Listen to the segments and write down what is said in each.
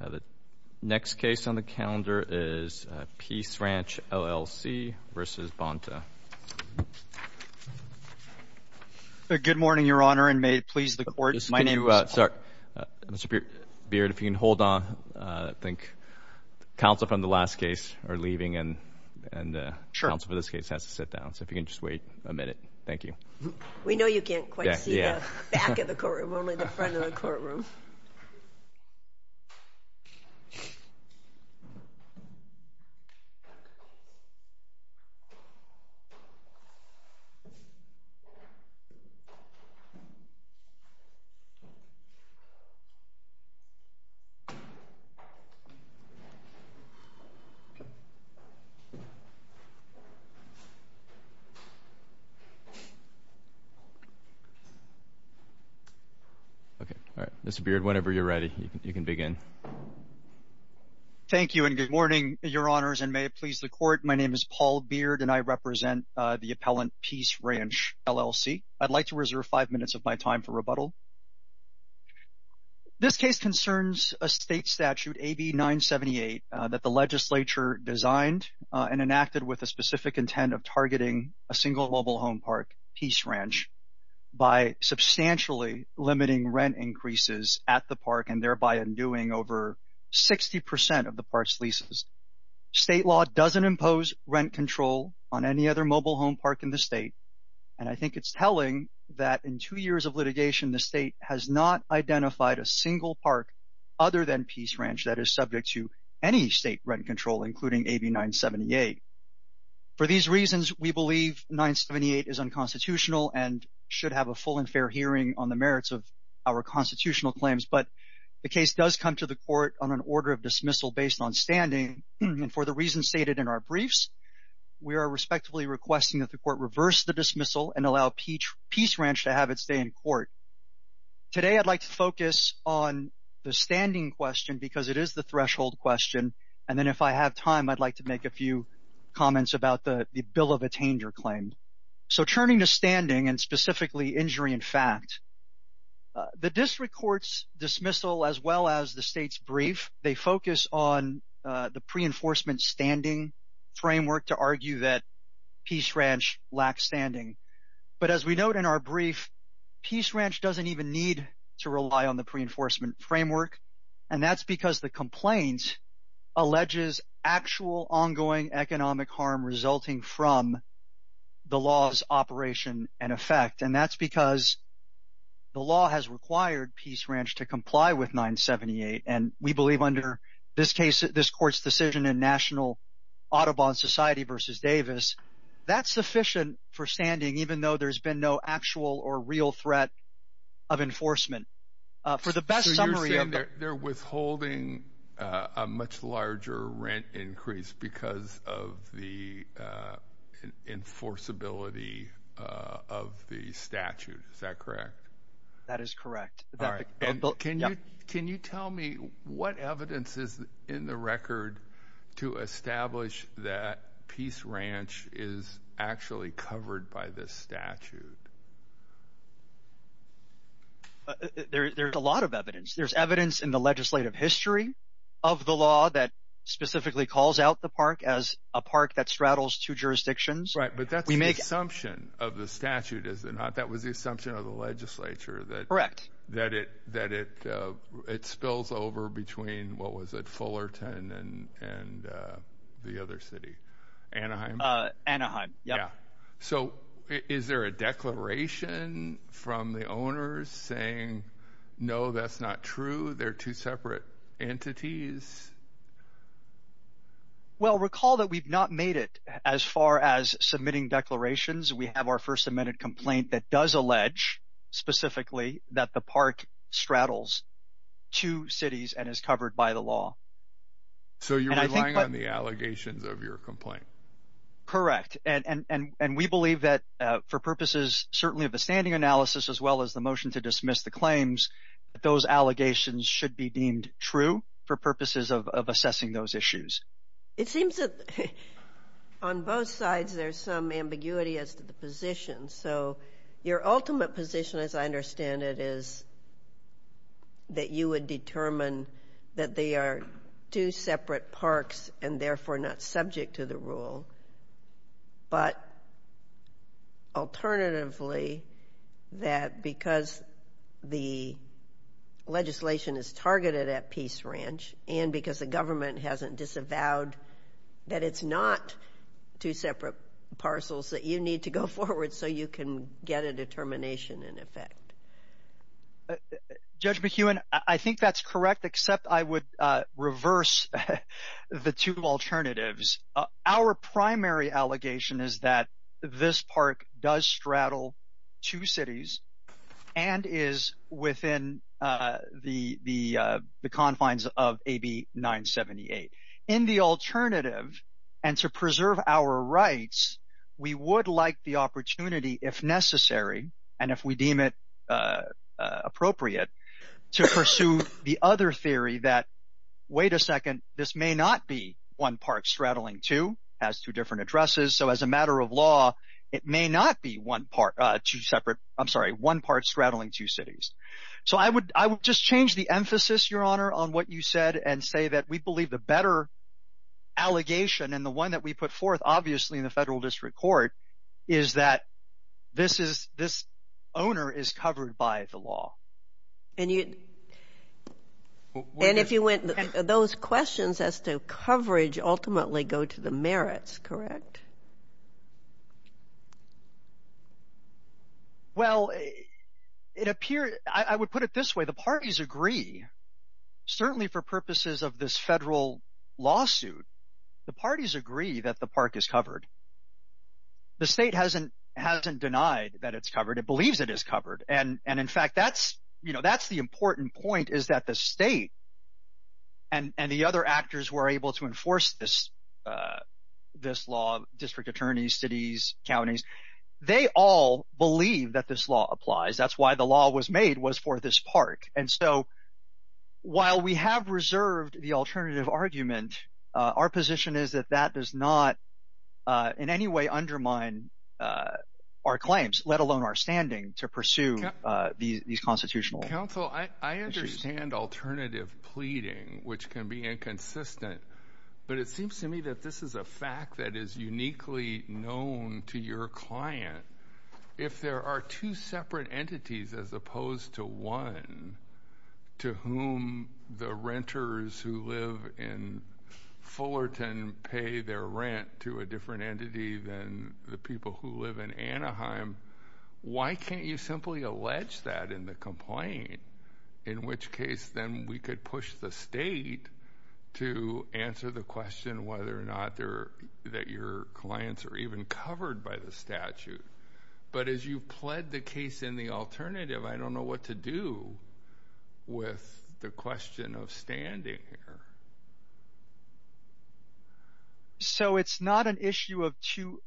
The next case on the calendar is Peace Ranch, LLC v. Bonta. Good morning, Your Honor, and may it please the Court, my name is Paul. Sorry. Mr. Beard, if you can hold on. I think counsel from the last case are leaving, and counsel for this case has to sit down. So if you can just wait a minute. Thank you. We know you can't quite see the back of the courtroom, only the front of the courtroom. Thank you. Thank you, and good morning, Your Honors, and may it please the Court. My name is Paul Beard, and I represent the appellant Peace Ranch, LLC. I'd like to reserve five minutes of my time for rebuttal. This case concerns a state statute, AB 978, that the legislature designed and enacted with a specific intent of targeting a single mobile home park, Peace Ranch, by substantially limiting rent increases at the park and thereby undoing over 60% of the park's leases. State law doesn't impose rent control on any other mobile home park in the state, and I think it's telling that in two years of litigation, the state has not identified a single park other than Peace Ranch that is subject to any state rent control, including AB 978. For these reasons, we believe 978 is unconstitutional and should have a full and fair hearing on the merits of our constitutional claims, but the case does come to the Court on an order of dismissal based on standing, and for the reasons stated in our briefs, we are respectively requesting that the Court reverse the dismissal and allow Peace Ranch to have its day in court. Today I'd like to focus on the standing question because it is the threshold question, and then if I have time, I'd like to make a few comments about the bill of attainder claim. So turning to standing and specifically injury in fact, the district court's dismissal as well as the state's brief, they focus on the pre-enforcement standing framework to argue that Peace Ranch lacks Standing. But as we note in our brief, Peace Ranch doesn't even need to rely on the pre-enforcement framework, and that's because the complaint alleges actual ongoing economic harm resulting from the law's operation and effect, and that's because the law has required Peace Ranch to comply with 978, and we believe under this court's decision in National Audubon Society v. Davis, that's sufficient for standing even though there's been no actual or real threat of enforcement. So you're saying they're withholding a much larger rent increase because of the enforceability of the statute, is that correct? That is correct. Can you tell me what evidence is in the record to establish that Peace Ranch is actually covered by this statute? There's a lot of evidence. There's evidence in the legislative history of the law that specifically calls out the park as a park that straddles two jurisdictions. Right, but that's the assumption of the statute, is it not? That was the assumption of the legislature that it spills over between, what was it, Fullerton and the other city, Anaheim? Anaheim, yeah. So is there a declaration from the owners saying, no, that's not true, they're two separate entities? Well, recall that we've not made it as far as submitting declarations. We have our first amended complaint that does allege specifically that the park straddles two cities and is covered by the law. So you're relying on the allegations of your complaint? Correct, and we believe that for purposes certainly of a standing analysis, as well as the motion to dismiss the claims, that those allegations should be deemed true for purposes of assessing those issues. It seems that on both sides there's some ambiguity as to the position. So your ultimate position, as I understand it, is that you would determine that they are two separate parks and therefore not subject to the rule, but alternatively that because the legislation is targeted at Peace Ranch and because the government hasn't disavowed that it's not two separate parcels that you need to go forward so you can get a determination in effect. Judge McEwen, I think that's correct, except I would reverse the two alternatives. Our primary allegation is that this park does straddle two cities and is within the confines of AB 978. In the alternative, and to preserve our rights, we would like the opportunity if necessary, and if we deem it appropriate, to pursue the other theory that, wait a second, this may not be one park straddling two. It has two different addresses, so as a matter of law, it may not be one park straddling two cities. So I would just change the emphasis, Your Honor, on what you said and say that we believe the better allegation and the one that we put forth obviously in the Federal District Court is that this owner is covered by the law. And if you went, those questions as to coverage ultimately go to the merits, correct? Well, it appears – I would put it this way. The parties agree, certainly for purposes of this federal lawsuit. The parties agree that the park is covered. The state hasn't denied that it's covered. It believes it is covered, and in fact, that's the important point, is that the state and the other actors who are able to enforce this law, district attorneys, cities, counties, they all believe that this law applies. That's why the law was made was for this park. And so while we have reserved the alternative argument, our position is that that does not in any way undermine our claims, let alone our standing to pursue these constitutional issues. Counsel, I understand alternative pleading, which can be inconsistent, but it seems to me that this is a fact that is uniquely known to your client. If there are two separate entities as opposed to one to whom the renters who live in Fullerton pay their rent to a different entity than the people who live in Anaheim, why can't you simply allege that in the complaint, in which case then we could push the state to answer the question whether or not your clients are even covered by the statute. But as you've pled the case in the alternative, I don't know what to do with the question of standing here. So it's not an issue of two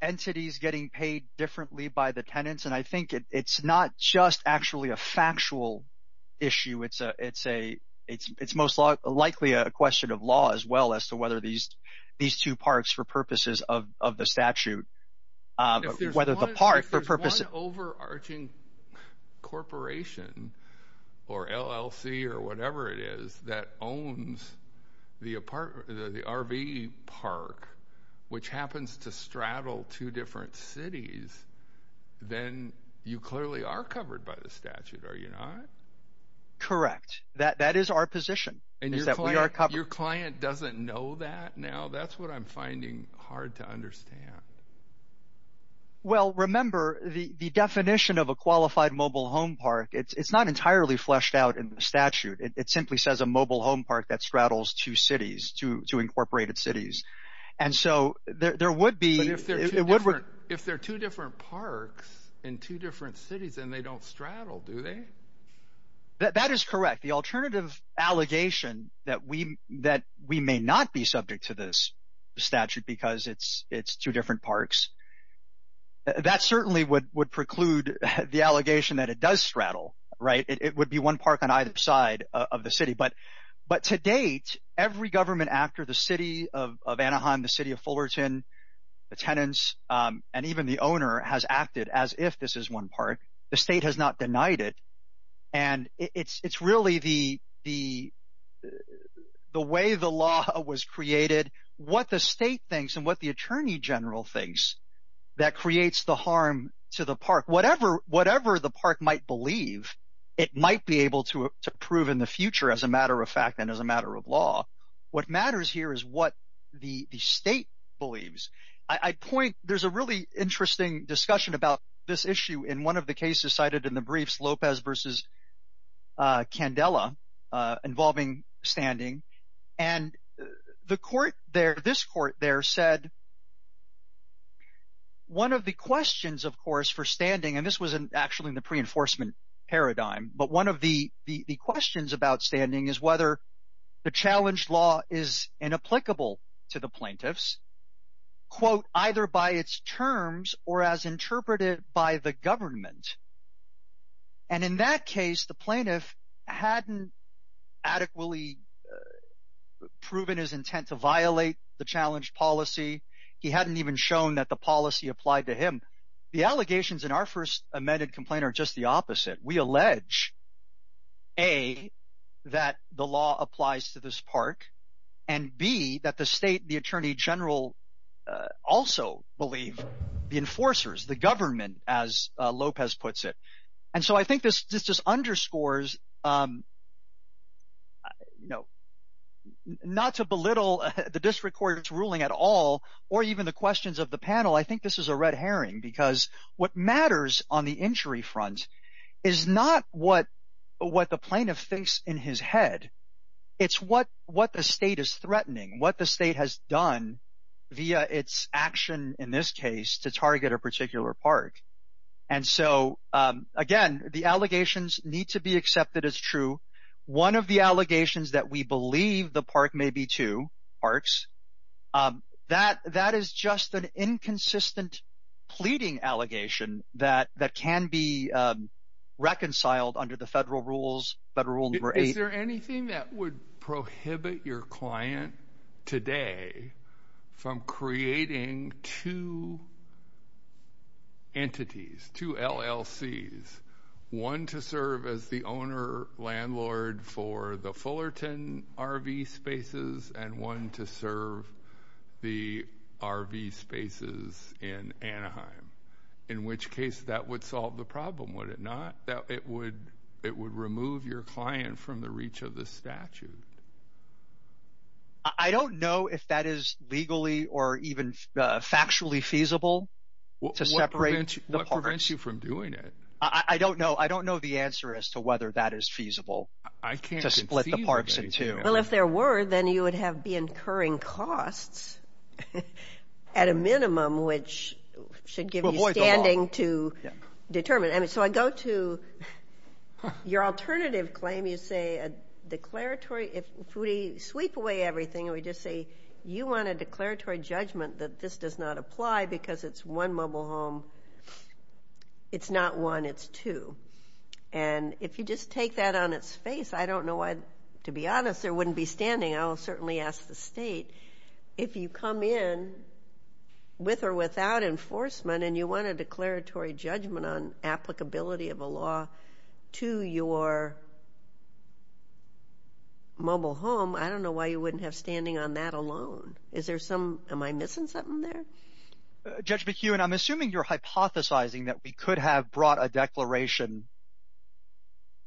entities getting paid differently by the tenants, and I think it's not just actually a factual issue. It's most likely a question of law as well as to whether these two parks for purposes of the statute, whether the park for purposes – or LLC or whatever it is that owns the RV park, which happens to straddle two different cities, then you clearly are covered by the statute, are you not? Correct. That is our position, is that we are covered. Your client doesn't know that now? That's what I'm finding hard to understand. Well, remember, the definition of a qualified mobile home park, it's not entirely fleshed out in the statute. It simply says a mobile home park that straddles two cities, two incorporated cities. And so there would be – But if they're two different parks in two different cities, then they don't straddle, do they? That is correct. The alternative allegation that we may not be subject to this statute because it's two different parks, that certainly would preclude the allegation that it does straddle. It would be one park on either side of the city. But to date, every government after the City of Anaheim, the City of Fullerton, the tenants, and even the owner has acted as if this is one park. The state has not denied it. And it's really the way the law was created, what the state thinks and what the attorney general thinks that creates the harm to the park. Whatever the park might believe, it might be able to prove in the future as a matter of fact and as a matter of law. What matters here is what the state believes. I point – there's a really interesting discussion about this issue in one of the cases cited in the briefs, Lopez v. Candela, involving standing. And the court there, this court there, said one of the questions, of course, for standing – and this was actually in the pre-enforcement paradigm. But one of the questions about standing is whether the challenged law is inapplicable to the plaintiffs, quote, either by its terms or as interpreted by the government. And in that case, the plaintiff hadn't adequately proven his intent to violate the challenged policy. He hadn't even shown that the policy applied to him. The allegations in our first amended complaint are just the opposite. We allege, A, that the law applies to this park and, B, that the state and the attorney general also believe the enforcers, the government as Lopez puts it. And so I think this just underscores not to belittle the district court's ruling at all or even the questions of the panel. I think this is a red herring because what matters on the injury front is not what the plaintiff thinks in his head. It's what the state is threatening, what the state has done via its action in this case to target a particular park. And so, again, the allegations need to be accepted as true. One of the allegations that we believe the park may be two parks, that is just an inconsistent pleading allegation that can be reconciled under the federal rules, federal rule number eight. Is there anything that would prohibit your client today from creating two entities, two LLCs, one to serve as the owner-landlord for the Fullerton RV spaces and one to serve the RV spaces in Anaheim? In which case that would solve the problem, would it not? It would remove your client from the reach of the statute. I don't know if that is legally or even factually feasible to separate the parks. What prevents you from doing it? I don't know. I don't know the answer as to whether that is feasible to split the parks in two. Well, if there were, then you would have be incurring costs at a minimum, which should give you standing to determine. So I go to your alternative claim. You say a declaratory. If we sweep away everything and we just say you want a declaratory judgment that this does not apply because it's one mobile home, it's not one, it's two. And if you just take that on its face, I don't know why, to be honest, there wouldn't be standing. I'll certainly ask the state. If you come in with or without enforcement and you want a declaratory judgment on applicability of a law to your mobile home, I don't know why you wouldn't have standing on that alone. Is there some – am I missing something there? Judge McHugh, and I'm assuming you're hypothesizing that we could have brought a declaration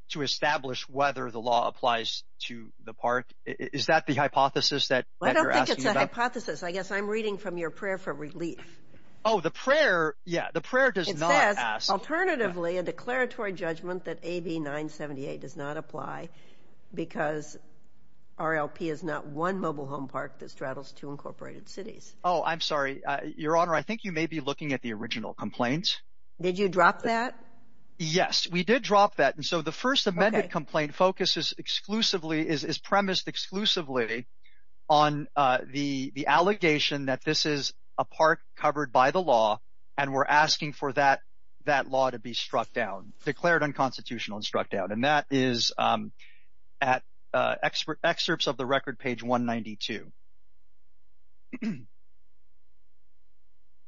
to establish whether the law applies to the park. Is that the hypothesis that you're asking about? I don't think it's a hypothesis. I guess I'm reading from your prayer for relief. Oh, the prayer – yeah, the prayer does not ask. It says, alternatively, a declaratory judgment that AB 978 does not apply because RLP is not one mobile home park that straddles two incorporated cities. Oh, I'm sorry. Your Honor, I think you may be looking at the original complaint. Did you drop that? Yes, we did drop that. And so the First Amendment complaint focuses exclusively – is premised exclusively on the allegation that this is a park covered by the law, and we're asking for that law to be struck down, declared unconstitutional and struck down. And that is at excerpts of the record, page 192.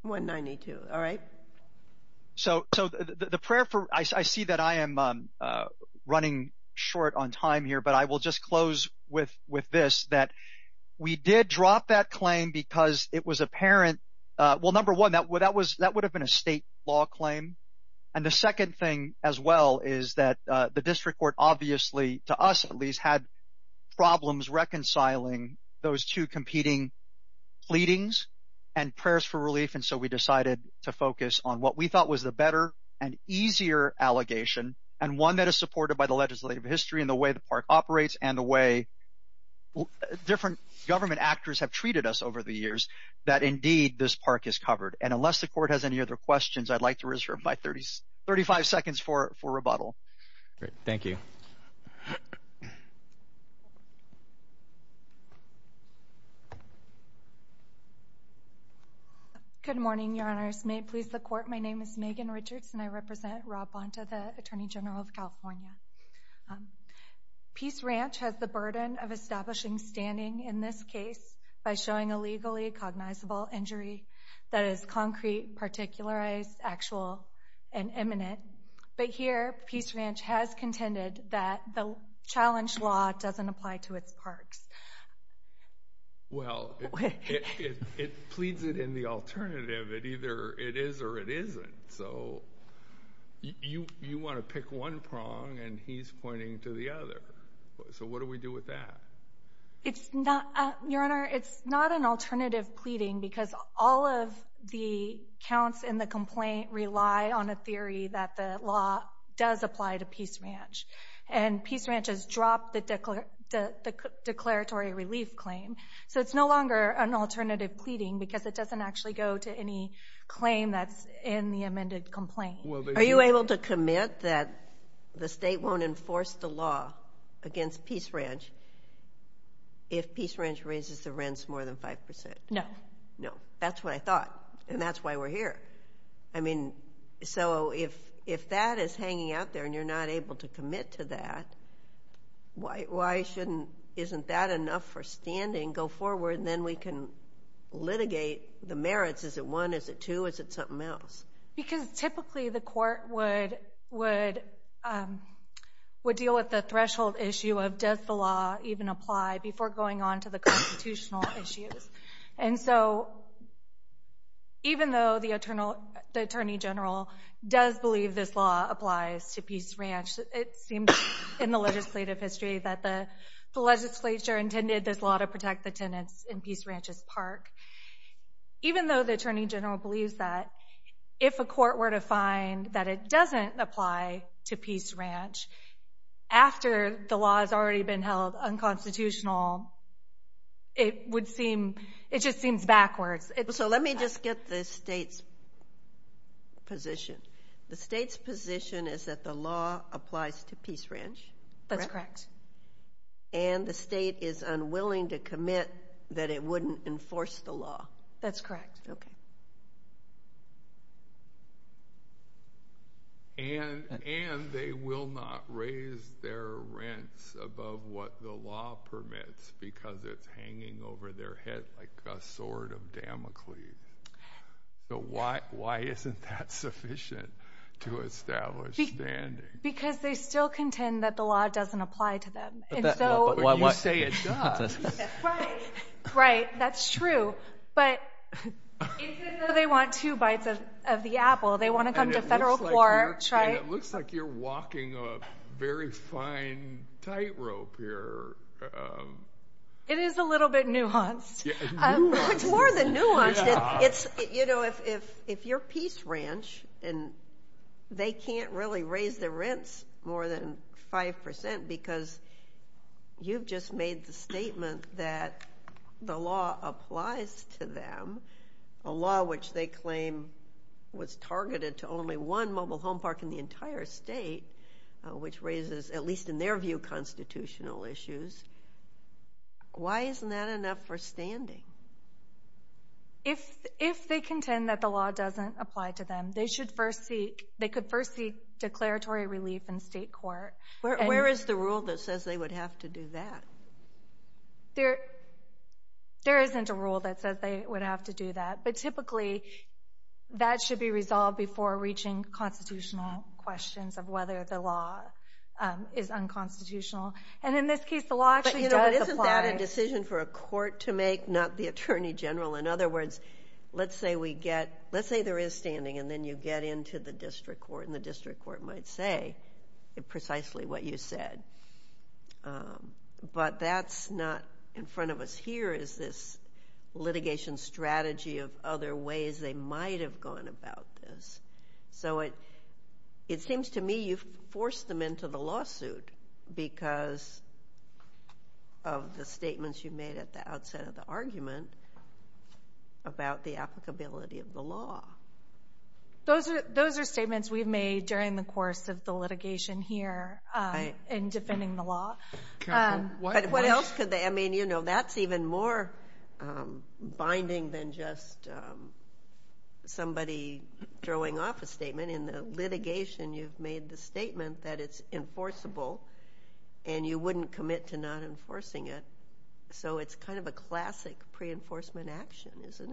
192, all right. So the prayer for – I see that I am running short on time here, but I will just close with this, that we did drop that claim because it was apparent – well, number one, that would have been a state law claim. And the second thing as well is that the district court obviously, to us at least, had problems reconciling those two competing pleadings and prayers for relief, and so we decided to focus on what we thought was the better and easier allegation and one that is supported by the legislative history and the way the park operates and the way different government actors have treated us over the years that, indeed, this park is covered. And unless the court has any other questions, I'd like to reserve my 35 seconds for rebuttal. Thank you. Good morning, Your Honors. May it please the court, my name is Megan Richards and I represent Rob Bonta, the Attorney General of California. Peace Ranch has the burden of establishing standing in this case by showing a legally cognizable injury that is concrete, particularized, actual, and imminent. But here, Peace Ranch has contended that the challenge law doesn't apply to its parks. Well, it pleads it in the alternative that either it is or it isn't, so you want to pick one prong and he's pointing to the other. So what do we do with that? It's not, Your Honor, it's not an alternative pleading because all of the counts in the complaint rely on a theory that the law does apply to Peace Ranch. And Peace Ranch has dropped the declaratory relief claim, so it's no longer an alternative pleading because it doesn't actually go to any claim that's in the amended complaint. Are you able to commit that the state won't enforce the law against Peace Ranch if Peace Ranch raises the rents more than 5%? No. No, that's what I thought, and that's why we're here. I mean, so if that is hanging out there and you're not able to commit to that, why shouldn't, isn't that enough for standing, go forward, and then we can litigate the merits, is it one, is it two, is it something else? Because typically the court would deal with the threshold issue of does the law even apply before going on to the constitutional issues. And so even though the Attorney General does believe this law applies to Peace Ranch, it seems in the legislative history that the legislature intended this law Even though the Attorney General believes that, if a court were to find that it doesn't apply to Peace Ranch after the law has already been held unconstitutional, it would seem, it just seems backwards. So let me just get the state's position. The state's position is that the law applies to Peace Ranch? That's correct. And the state is unwilling to commit that it wouldn't enforce the law? That's correct. And they will not raise their rents above what the law permits because it's hanging over their head like a sword of Damocles. So why isn't that sufficient to establish standing? Because they still contend that the law doesn't apply to them. But you say it does. Right, that's true. But it's as though they want two bites of the apple. They want to come to federal court. And it looks like you're walking a very fine tightrope here. It is a little bit nuanced. It's more than nuanced. You know, if you're Peace Ranch and they can't really raise their rents more than 5% because you've just made the statement that the law applies to them, a law which they claim was targeted to only one mobile home park in the entire state, which raises, at least in their view, constitutional issues, why isn't that enough for standing? If they contend that the law doesn't apply to them, they could first seek declaratory relief in state court. Where is the rule that says they would have to do that? There isn't a rule that says they would have to do that. But typically that should be resolved before reaching constitutional questions of whether the law is unconstitutional. And in this case the law actually does apply. But isn't that a decision for a court to make, not the attorney general? In other words, let's say there is standing, and then you get into the district court, and the district court might say precisely what you said. But that's not in front of us. Here is this litigation strategy of other ways they might have gone about this. So it seems to me you've forced them into the lawsuit because of the statements you made at the outset of the argument about the applicability of the law. Those are statements we've made during the course of the litigation here in defending the law. But what else could they? I mean, you know, that's even more binding than just somebody throwing off a statement. In the litigation you've made the statement that it's enforceable, and you wouldn't commit to not enforcing it. So it's kind of a classic pre-enforcement action, isn't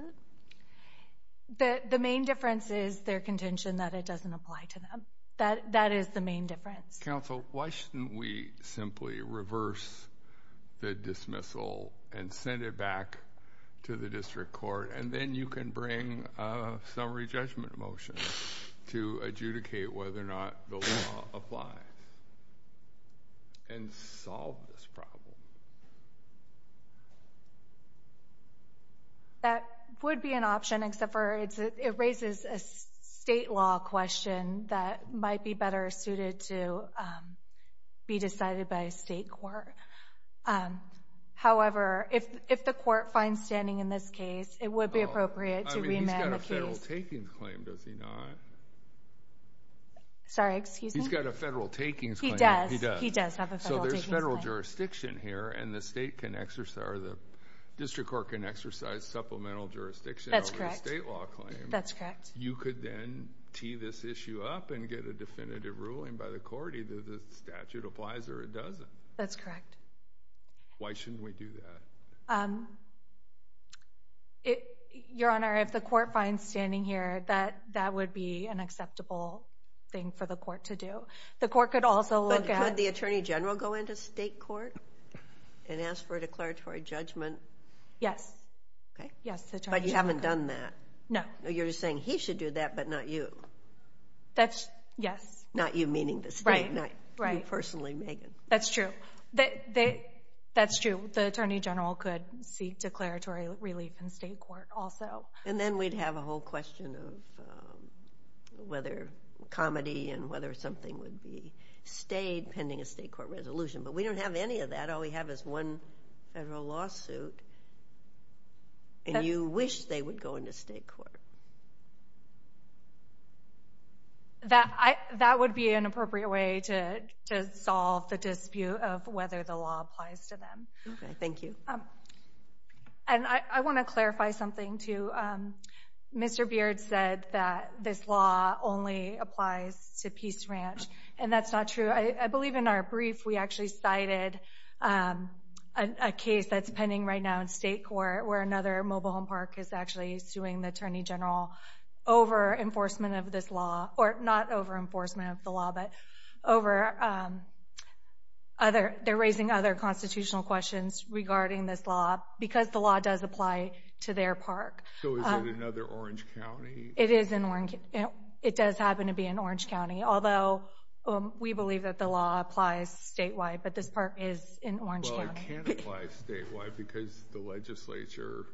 it? The main difference is their contention that it doesn't apply to them. That is the main difference. Counsel, why shouldn't we simply reverse the dismissal and send it back to the district court, and then you can bring a summary judgment motion to adjudicate whether or not the law applies and solve this problem? That would be an option, except it raises a state law question that might be better suited to be decided by a state court. However, if the court finds standing in this case, it would be appropriate to remand the case. He's got a federal takings claim, does he not? Sorry, excuse me? He's got a federal takings claim. He does. He does have a federal takings claim. So there's federal jurisdiction here, and the district court can exercise supplemental jurisdiction over a state law claim. That's correct. You could then tee this issue up and get a definitive ruling by the court, either the statute applies or it doesn't. That's correct. Why shouldn't we do that? Your Honor, if the court finds standing here, that would be an acceptable thing for the court to do. But could the attorney general go into state court and ask for a declaratory judgment? Yes. But you haven't done that. No. You're just saying he should do that but not you. Yes. Not you meaning the state, not you personally, Megan. That's true. That's true. The attorney general could seek declaratory relief in state court also. And then we'd have a whole question of whether comedy and whether something would be stayed pending a state court resolution. But we don't have any of that. All we have is one federal lawsuit. And you wish they would go into state court. That would be an appropriate way to solve the dispute of whether the law applies to them. Okay. Thank you. And I want to clarify something, too. Mr. Beard said that this law only applies to Peace Ranch, and that's not true. I believe in our brief we actually cited a case that's pending right now in state court where another mobile home park is actually suing the attorney general over enforcement of this law. Or not over enforcement of the law, but over other. They're raising other constitutional questions regarding this law because the law does apply to their park. So is it another Orange County? It is. It does happen to be in Orange County. Although we believe that the law applies statewide, but this park is in Orange County. Well, it can't apply statewide because the legislature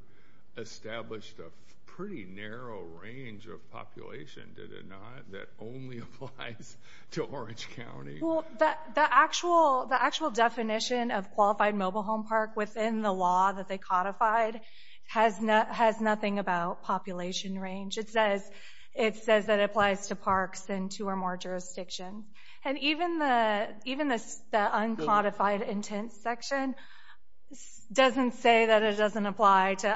established a pretty narrow range of population, did it not, that only applies to Orange County. Well, the actual definition of qualified mobile home park within the law that they codified has nothing about population range. It says that it applies to parks in two or more jurisdictions. And even the uncodified intent section doesn't say that it doesn't apply to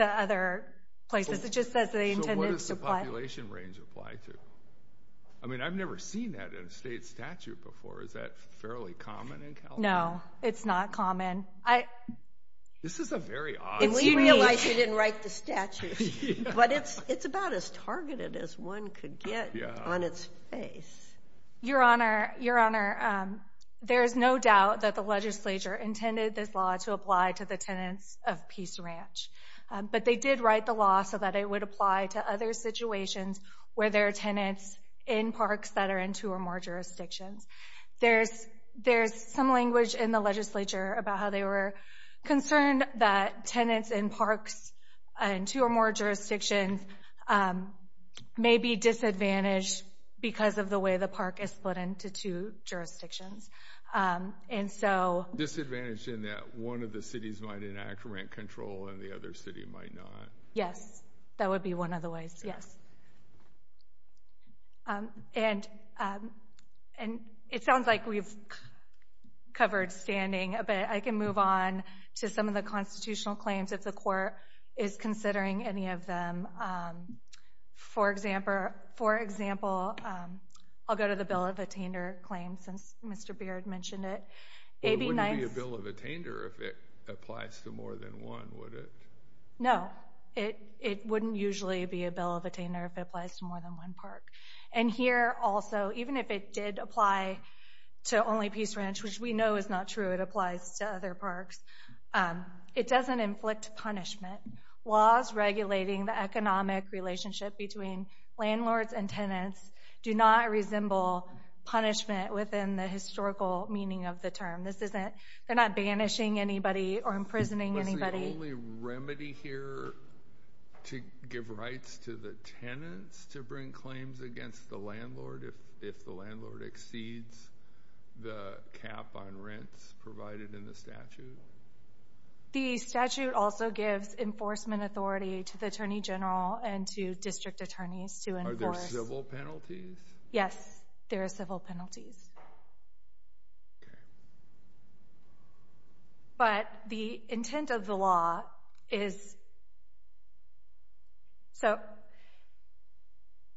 other places. It just says they intended to apply. So what does the population range apply to? I mean, I've never seen that in a state statute before. Is that fairly common in California? No, it's not common. This is a very odd range. And we realize you didn't write the statute, but it's about as targeted as one could get on its face. Your Honor, there is no doubt that the legislature intended this law to apply to the tenants of Peace Ranch. But they did write the law so that it would apply to other situations where there are tenants in parks that are in two or more jurisdictions. There's some language in the legislature about how they were concerned that tenants in parks in two or more jurisdictions may be disadvantaged because of the way the park is split into two jurisdictions. Disadvantaged in that one of the cities might enact rent control and the other city might not. Yes, that would be one of the ways, yes. And it sounds like we've covered standing, but I can move on to some of the constitutional claims if the court is considering any of them. For example, I'll go to the bill of attainder claims since Mr. Beard mentioned it. It wouldn't be a bill of attainder if it applies to more than one, would it? No, it wouldn't usually be a bill of attainder if it applies to more than one park. And here also, even if it did apply to only Peace Ranch, which we know is not true, it applies to other parks, it doesn't inflict punishment. Laws regulating the economic relationship between landlords and tenants do not resemble punishment within the historical meaning of the term. They're not banishing anybody or imprisoning anybody. What's the only remedy here to give rights to the tenants to bring claims against the landlord if the landlord exceeds the cap on rents provided in the statute? The statute also gives enforcement authority to the attorney general and to district attorneys to enforce. Are there civil penalties? Yes, there are civil penalties. Okay. But the intent of the law is... So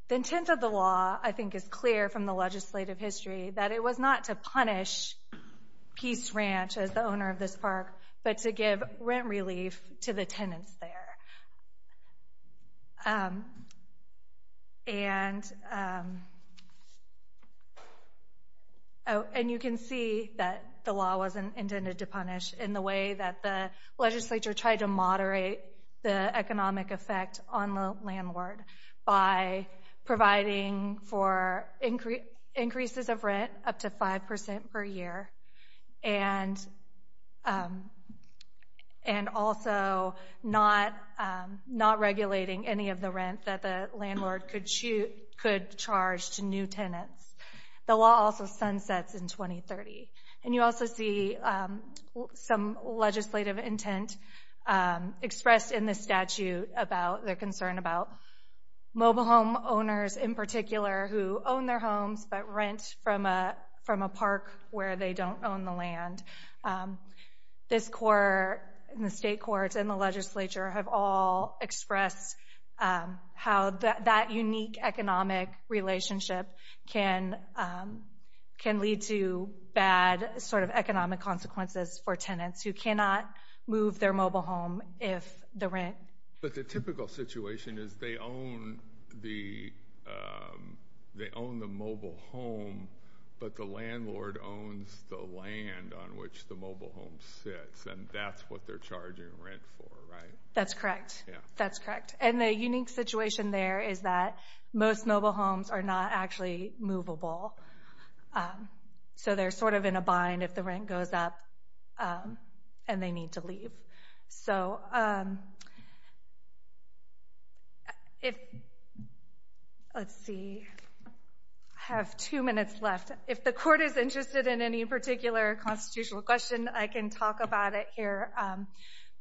the intent of the law I think is clear from the legislative history that it was not to punish Peace Ranch as the owner of this park, but to give rent relief to the tenants there. And you can see that the law wasn't intended to punish in the way that the legislature tried to moderate the economic effect on the landlord by providing for increases of rent up to 5% per year and also not regulating any of the rent that the landlord could charge to new tenants. The law also sunsets in 2030. And you also see some legislative intent expressed in the statute about their concern about mobile home owners in particular who own their homes but rent from a park where they don't own the land. This court and the state courts and the legislature have all expressed how that unique economic relationship can lead to bad economic consequences for tenants who cannot move their mobile home if the rent... But the typical situation is they own the mobile home, but the landlord owns the land on which the mobile home sits, and that's what they're charging rent for, right? That's correct. That's correct. And the unique situation there is that most mobile homes are not actually movable. So they're sort of in a bind if the rent goes up and they need to leave. So if...let's see. I have two minutes left. If the court is interested in any particular constitutional question, I can talk about it here.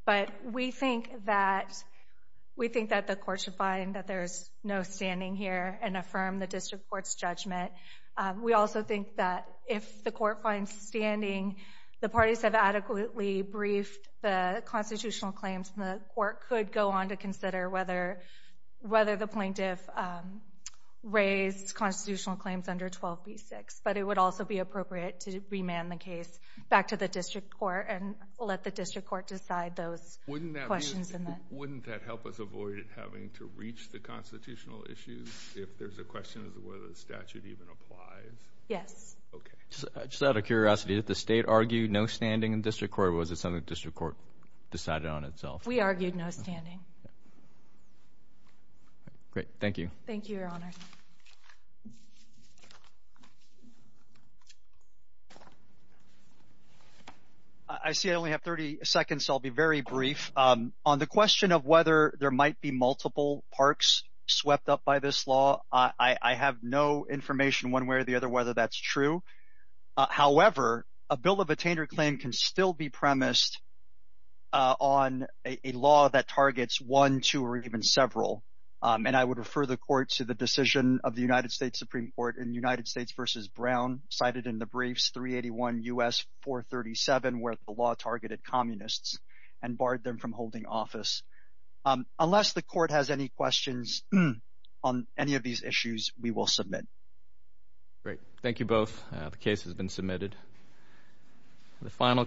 But we think that the court should find that there's no standing here and affirm the district court's judgment. We also think that if the court finds standing, the parties have adequately briefed the constitutional claims, and the court could go on to consider whether the plaintiff raised constitutional claims under 12b-6. But it would also be appropriate to remand the case back to the district court and let the district court decide those questions. Wouldn't that help us avoid having to reach the constitutional issues if there's a question as to whether the statute even applies? Yes. Okay. Just out of curiosity, did the state argue no standing in district court, or was it something the district court decided on itself? We argued no standing. Great. Thank you. Thank you, Your Honor. I see I only have 30 seconds, so I'll be very brief. On the question of whether there might be multiple parks swept up by this law, I have no information one way or the other whether that's true. However, a bill of attainder claim can still be premised on a law that targets one, two, or even several. And I would refer the court to the decision of the United States Supreme Court in United States v. Brown, cited in the briefs 381 U.S. 437, where the law targeted communists and barred them from holding office. Unless the court has any questions on any of these issues, we will submit. Great. Thank you both.